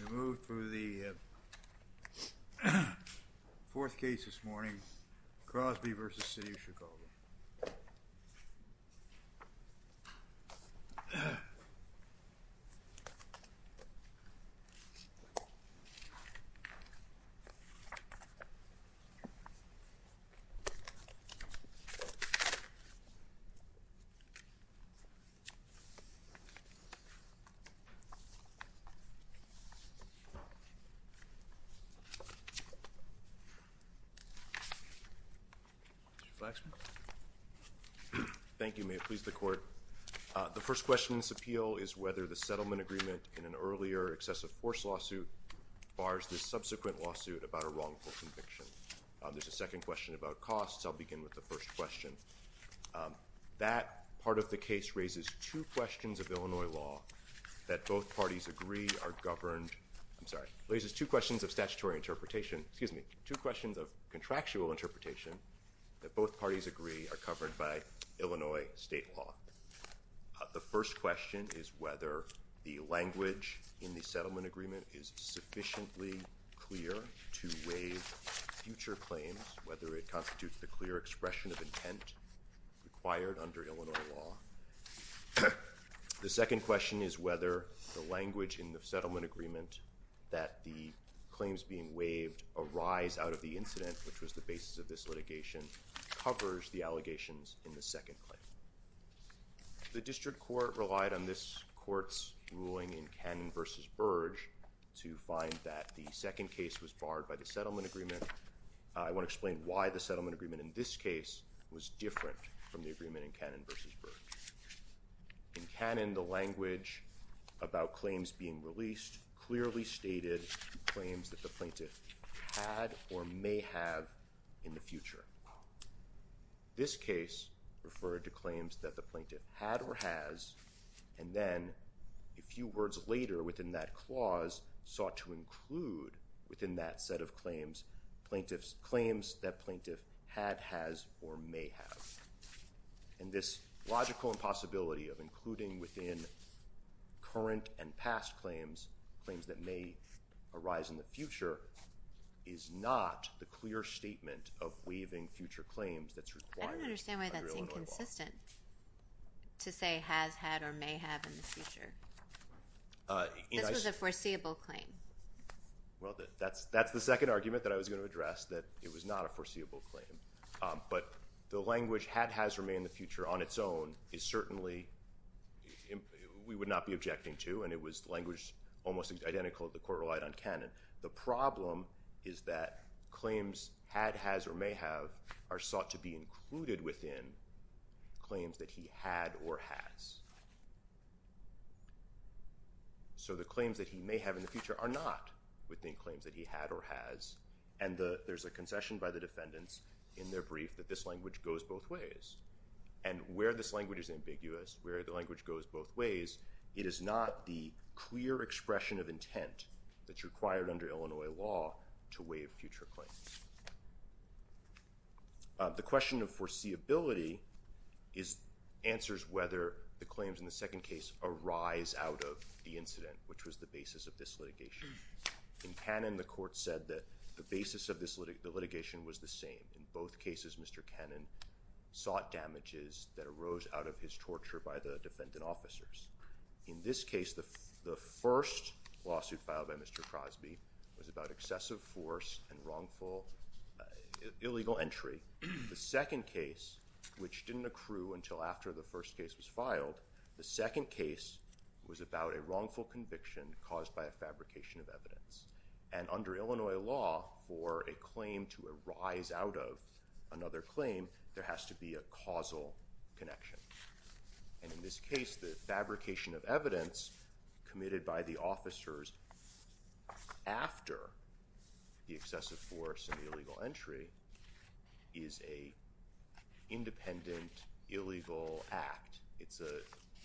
We move to the fourth case this morning, Crosby v. City of Chicago. The first question in this appeal is whether the settlement agreement in an earlier excessive force lawsuit bars this subsequent lawsuit about a wrongful conviction. There's a second question about costs. I'll begin with the first question. That part of the case raises two questions of statutory interpretation, two questions of contractual interpretation that both parties agree are covered by Illinois state law. The first question is whether the language in the settlement agreement is sufficiently clear to waive future claims, whether it constitutes the clear expression of intent required under Illinois law. The second question is whether the language in the settlement agreement that the claims being waived arise out of the incident, which was the basis of this litigation, covers the allegations in the second claim. The district court relied on this court's ruling in Cannon v. Burge to find that the second case was barred by the settlement agreement. I want to explain why the settlement agreement in this case was different from the agreement in Cannon v. Burge. In Cannon, the language about claims being released clearly stated claims that the plaintiff had or may have in the future. This case referred to claims that the plaintiff had or has, and then a few words later within that clause sought to include within that set of claims, claims that plaintiff had, has, or may have. And this logical impossibility of including within current and past claims, claims that may arise in the future, is not the clear statement of waiving future claims that's required under Illinois law. I don't understand why that's inconsistent to say has, had, or may have in the future. This was a foreseeable claim. Well, that's the second argument that I was going to address, that it was not a foreseeable claim. But the language had, has, or may in the future on its own is certainly, we would not be objecting to, and it was language almost identical to the court relied on Cannon. The problem is that claims had, has, or may have are sought to be included within claims that he had or has. So the claims that he may have in the future are not within claims that he had or has. And there's a concession by the defendants in their brief that this language goes both ways. And where this language is ambiguous, where the language goes both ways, it is not the clear expression of intent that's required under Illinois law to waive future claims. The question of foreseeability is, answers whether the claims in the second case arise out of the incident, which was the basis of this litigation. In Cannon, the court said that the basis of this litigation was the same. In both cases, Mr. Cannon sought damages that arose out of his torture by the defendant officers. In this case, the first lawsuit filed by Mr. Crosby was about excessive force and wrongful, illegal entry. The second case, which didn't accrue until after the first case was filed, the second case was about a wrongful conviction caused by a fabrication of evidence. And under Illinois law, for a claim to arise out of another claim, there has to be a causal connection. And in this case, the fabrication of evidence committed by the officers after the excessive force and the illegal entry is a independent, illegal act. It's a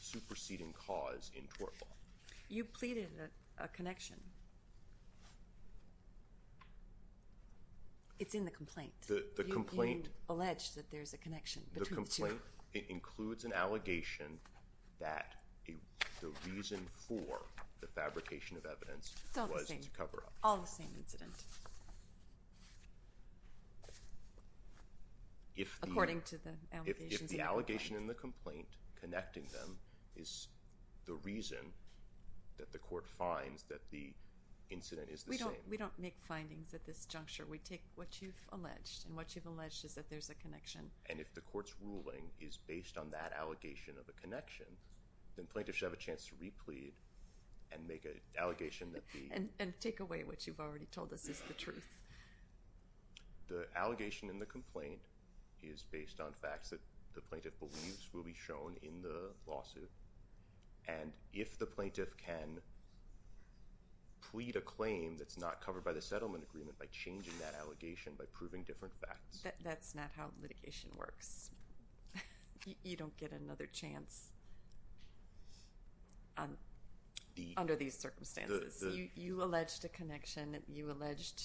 superseding cause in tort law. You pleaded a connection. It's in the complaint. The complaint. You allege that there's a connection between the two. The complaint includes an allegation that the reason for the fabrication of evidence was to cover up. It's all the same. All the same incident. According to the allegations in the complaint. The allegation in the complaint connecting them is the reason that the court finds that the incident is the same. We don't make findings at this juncture. We take what you've alleged, and what you've alleged is that there's a connection. And if the court's ruling is based on that allegation of a connection, then plaintiffs should have a chance to replead and make an allegation that the— And take away what you've already told us is the truth. The allegation in the complaint is based on facts that the plaintiff believes will be shown in the lawsuit. And if the plaintiff can plead a claim that's not covered by the settlement agreement by changing that allegation, by proving different facts— That's not how litigation works. You don't get another chance under these circumstances. You alleged a connection. You alleged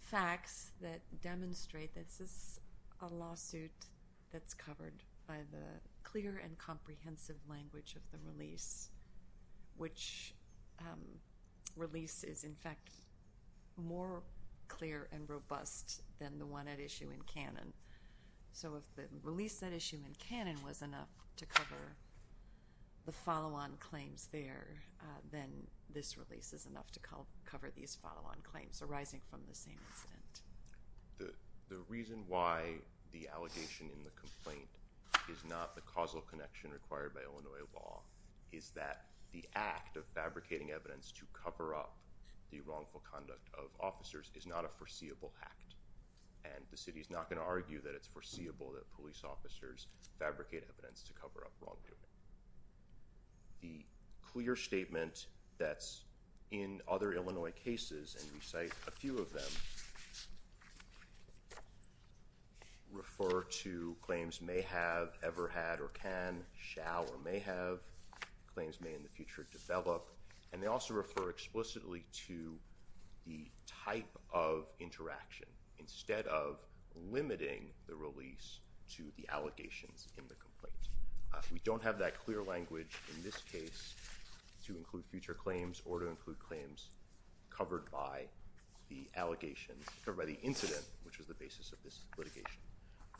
facts that demonstrate that this is a lawsuit that's covered by the clear and comprehensive language of the release, which release is, in fact, more clear and robust So if the release of that issue in canon was enough to cover the follow-on claims there, then this release is enough to cover these follow-on claims arising from the same incident. The reason why the allegation in the complaint is not the causal connection required by Illinois law is that the act of fabricating evidence to cover up the wrongful conduct of officers is not a foreseeable act. And the city is not going to argue that it's foreseeable that police officers fabricate evidence to cover up wrongdoing. The clear statement that's in other Illinois cases, and we cite a few of them, refer to claims may have, ever had, or can, shall, or may have, claims may in the future develop, and they also refer explicitly to the type of interaction instead of limiting the release to the allegations in the complaint. We don't have that clear language in this case to include future claims or to include claims covered by the allegation, or by the incident, which was the basis of this litigation.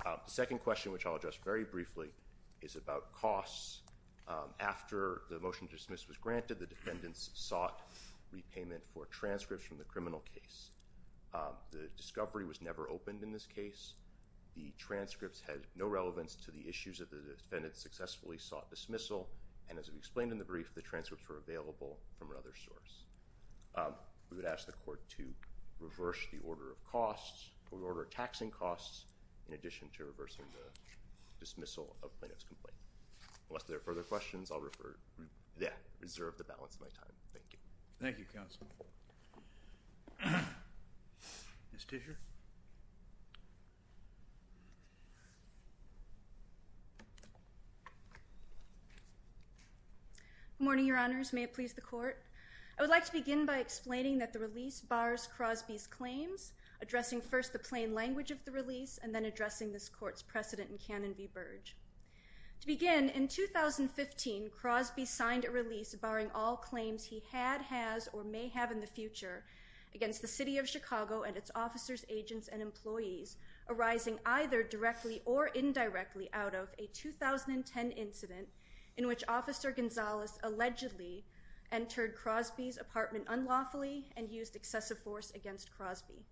The second question, which I'll address very briefly, is about costs. After the motion to dismiss was granted, the defendants sought repayment for transcripts from the criminal case. The discovery was never opened in this case. The transcripts had no relevance to the issues that the defendants successfully sought dismissal, and as we explained in the brief, the transcripts were available from another source. We would ask the court to reverse the order of costs, to reorder taxing costs, in addition to reversing the dismissal of plaintiff's complaint. Unless there are further questions, I'll reserve the balance of my time. Thank you. Thank you, counsel. Ms. Tischer? Good morning, Your Honors. May it please the court. I would like to begin by explaining that the release bars Crosby's claims, addressing first the plain language of the release, and then addressing this court's precedent in canon v. Burge. To begin, in 2015, Crosby signed a release barring all claims he had, has, or may have in the future against the city of Chicago and its officers, agents, and employees, arising either directly or indirectly out of a 2010 incident in which Officer Gonzalez allegedly entered Crosby's apartment unlawfully and used excessive force against Crosby.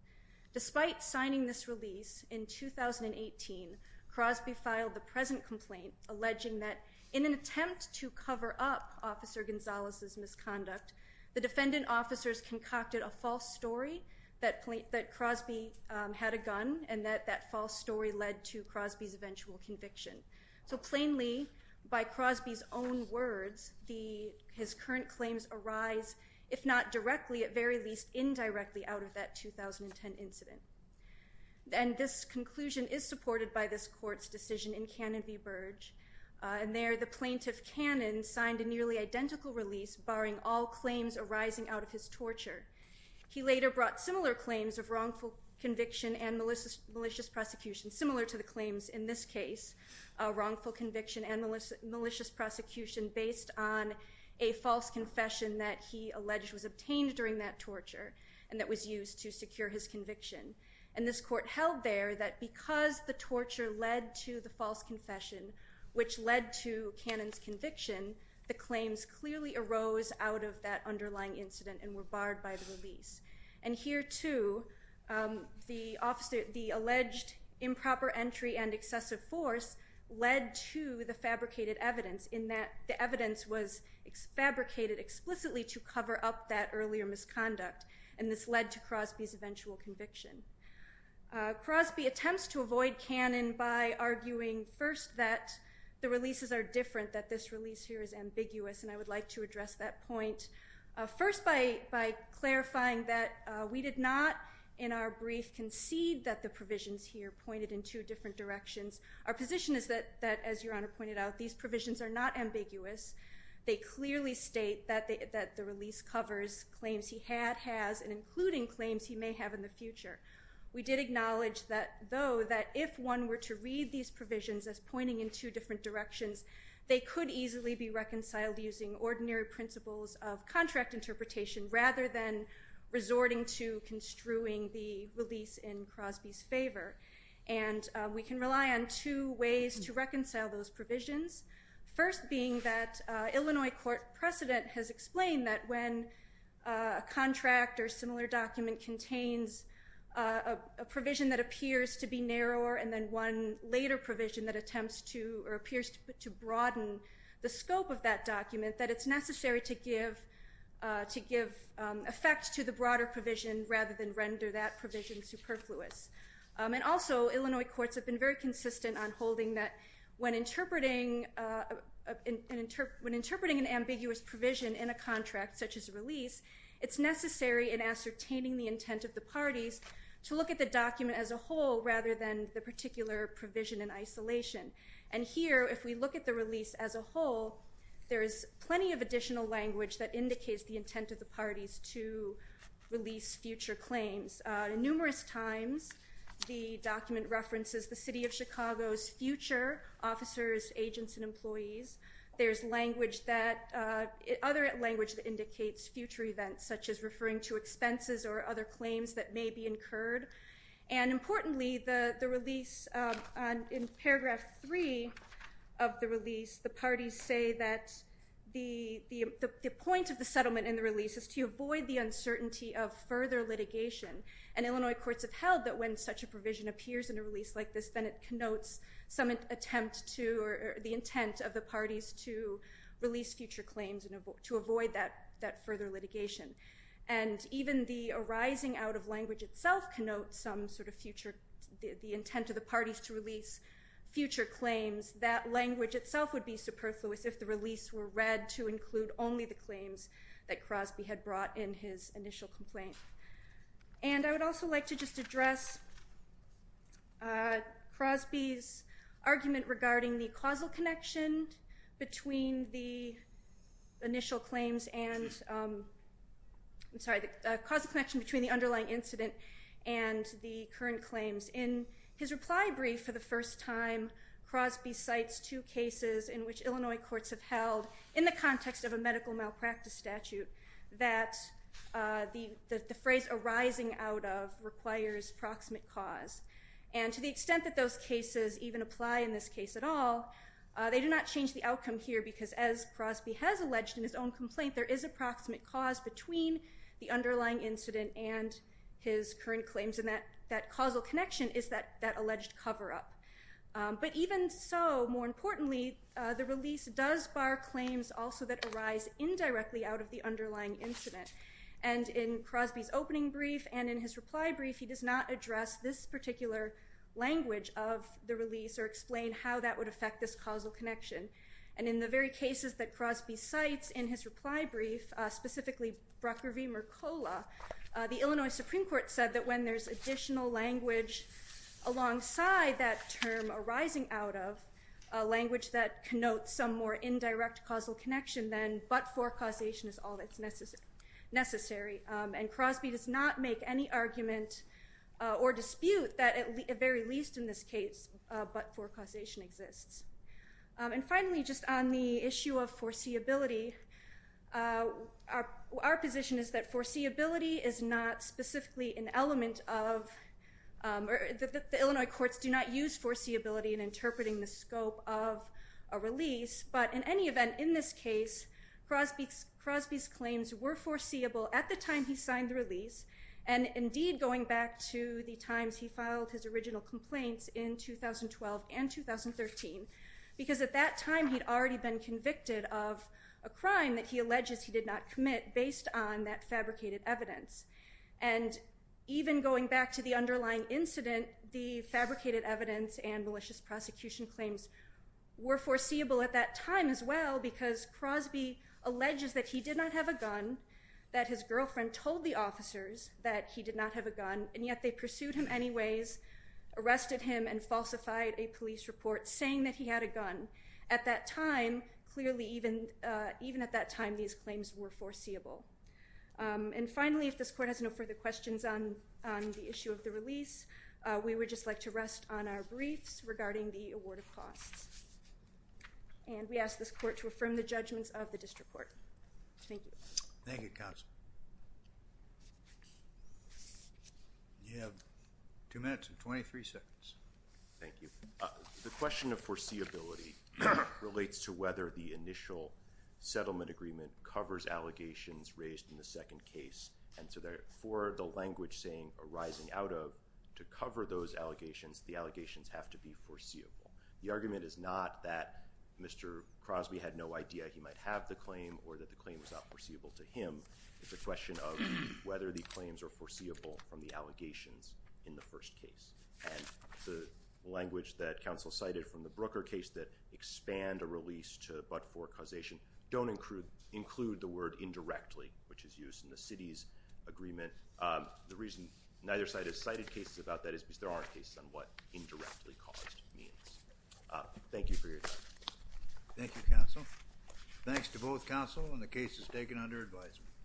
Despite signing this release in 2018, Crosby filed the present complaint alleging that in an attempt to cover up Officer Gonzalez's misconduct, the defendant officers concocted a false story that Crosby had a gun, and that that false story led to Crosby's eventual conviction. So plainly, by Crosby's own words, his current claims arise, if not directly, at very least indirectly out of that 2010 incident. And this conclusion is supported by this court's decision in canon v. Burge, and there the plaintiff canon signed a nearly identical release barring all claims arising out of his torture. He later brought similar claims of wrongful conviction and malicious prosecution, similar to the claims in this case, wrongful conviction and malicious prosecution based on a false confession that he alleged was obtained during that torture and that was used to secure his conviction. And this court held there that because the torture led to the false confession, which led to canon's conviction, the claims clearly arose out of that underlying incident and were barred by the release. And here too, the alleged improper entry and excessive force led to the fabricated evidence in that the evidence was fabricated explicitly to cover up that earlier misconduct, and this led to Crosby's eventual conviction. Crosby attempts to avoid canon by arguing first that the releases are different, that this release here is ambiguous, and I would like to address that point first by clarifying that we did not in our brief concede that the provisions here pointed in two different directions. Our position is that, as Your Honor pointed out, these provisions are not ambiguous. They clearly state that the release covers claims he had, has, and including claims he may have in the future. We did acknowledge, though, that if one were to read these provisions as pointing in two different directions, they could easily be reconciled using ordinary principles of contract interpretation rather than resorting to construing the release in Crosby's favor. And we can rely on two ways to reconcile those provisions, first being that Illinois court precedent has explained that when a contract or similar document contains a provision that appears to be narrower and then one later provision that attempts to or appears to broaden the scope of that document, that it's necessary to give effect to the broader provision rather than render that provision superfluous. And also, Illinois courts have been very consistent on holding that when interpreting an ambiguous provision in a contract such as a release, it's necessary in ascertaining the intent of the parties to look at the document as a whole rather than the particular provision in isolation. And here, if we look at the release as a whole, there is plenty of additional language that indicates the intent of the parties to release future claims. Numerous times, the document references the city of Chicago's future officers, agents, and employees. There's other language that indicates future events such as referring to expenses or other claims that may be incurred. And importantly, in paragraph 3 of the release, the parties say that the point of the settlement in the release is to avoid the uncertainty of further litigation. And Illinois courts have held that when such a provision appears in a release like this, then it connotes some attempt to or the intent of the parties to release future claims and to avoid that further litigation. And even the arising out of language itself connotes some sort of future, the intent of the parties to release future claims. That language itself would be superfluous if the release were read to include only the information that Crosby had brought in his initial complaint. And I would also like to just address Crosby's argument regarding the causal connection between the initial claims and, I'm sorry, the causal connection between the underlying incident and the current claims. In his reply brief for the first time, Crosby cites two cases in which Illinois courts have held in the context of a medical malpractice statute that the phrase arising out of requires proximate cause. And to the extent that those cases even apply in this case at all, they do not change the outcome here because as Crosby has alleged in his own complaint, there is a proximate cause between the underlying incident and his current claims. And that causal connection is that alleged cover-up. But even so, more importantly, the release does bar claims also that arise indirectly out of the underlying incident. And in Crosby's opening brief and in his reply brief, he does not address this particular language of the release or explain how that would affect this causal connection. And in the very cases that Crosby cites in his reply brief, specifically Brucker v. Mercola, the Illinois Supreme Court said that when there's additional language alongside that term arising out of a language that connotes some more indirect causal connection, then but-for causation is all that's necessary. And Crosby does not make any argument or dispute that at the very least in this case, but-for causation exists. And finally, just on the issue of foreseeability, our position is that foreseeability is not used for foreseeability in interpreting the scope of a release. But in any event, in this case, Crosby's claims were foreseeable at the time he signed the release. And indeed, going back to the times he filed his original complaints in 2012 and 2013. Because at that time, he'd already been convicted of a crime that he alleges he did not commit based on that fabricated evidence. And even going back to the underlying incident, the fabricated evidence and malicious prosecution claims were foreseeable at that time as well. Because Crosby alleges that he did not have a gun, that his girlfriend told the officers that he did not have a gun, and yet they pursued him anyways, arrested him, and falsified a police report saying that he had a gun. At that time, clearly even at that time, these claims were foreseeable. And finally, if this court has no further questions on the issue of the release, we would just like to rest on our briefs regarding the award of costs. And we ask this court to affirm the judgments of the district court. Thank you. Thank you, counsel. You have two minutes and 23 seconds. Thank you. The question of foreseeability relates to whether the initial settlement agreement covers allegations raised in the second case. And so therefore, the language arising out of to cover those allegations, the allegations have to be foreseeable. The argument is not that Mr. Crosby had no idea he might have the claim or that the claim was not foreseeable to him. It's a question of whether the claims are foreseeable from the allegations in the first case. And the language that counsel cited from the Brooker case that expand a release to but for causation don't include the word indirectly, which is used in the city's agreement. The reason neither side has cited cases about that is because there aren't cases on what indirectly caused means. Thank you for your time. Thank you, counsel. Thanks to both counsel and the cases taken under advisement.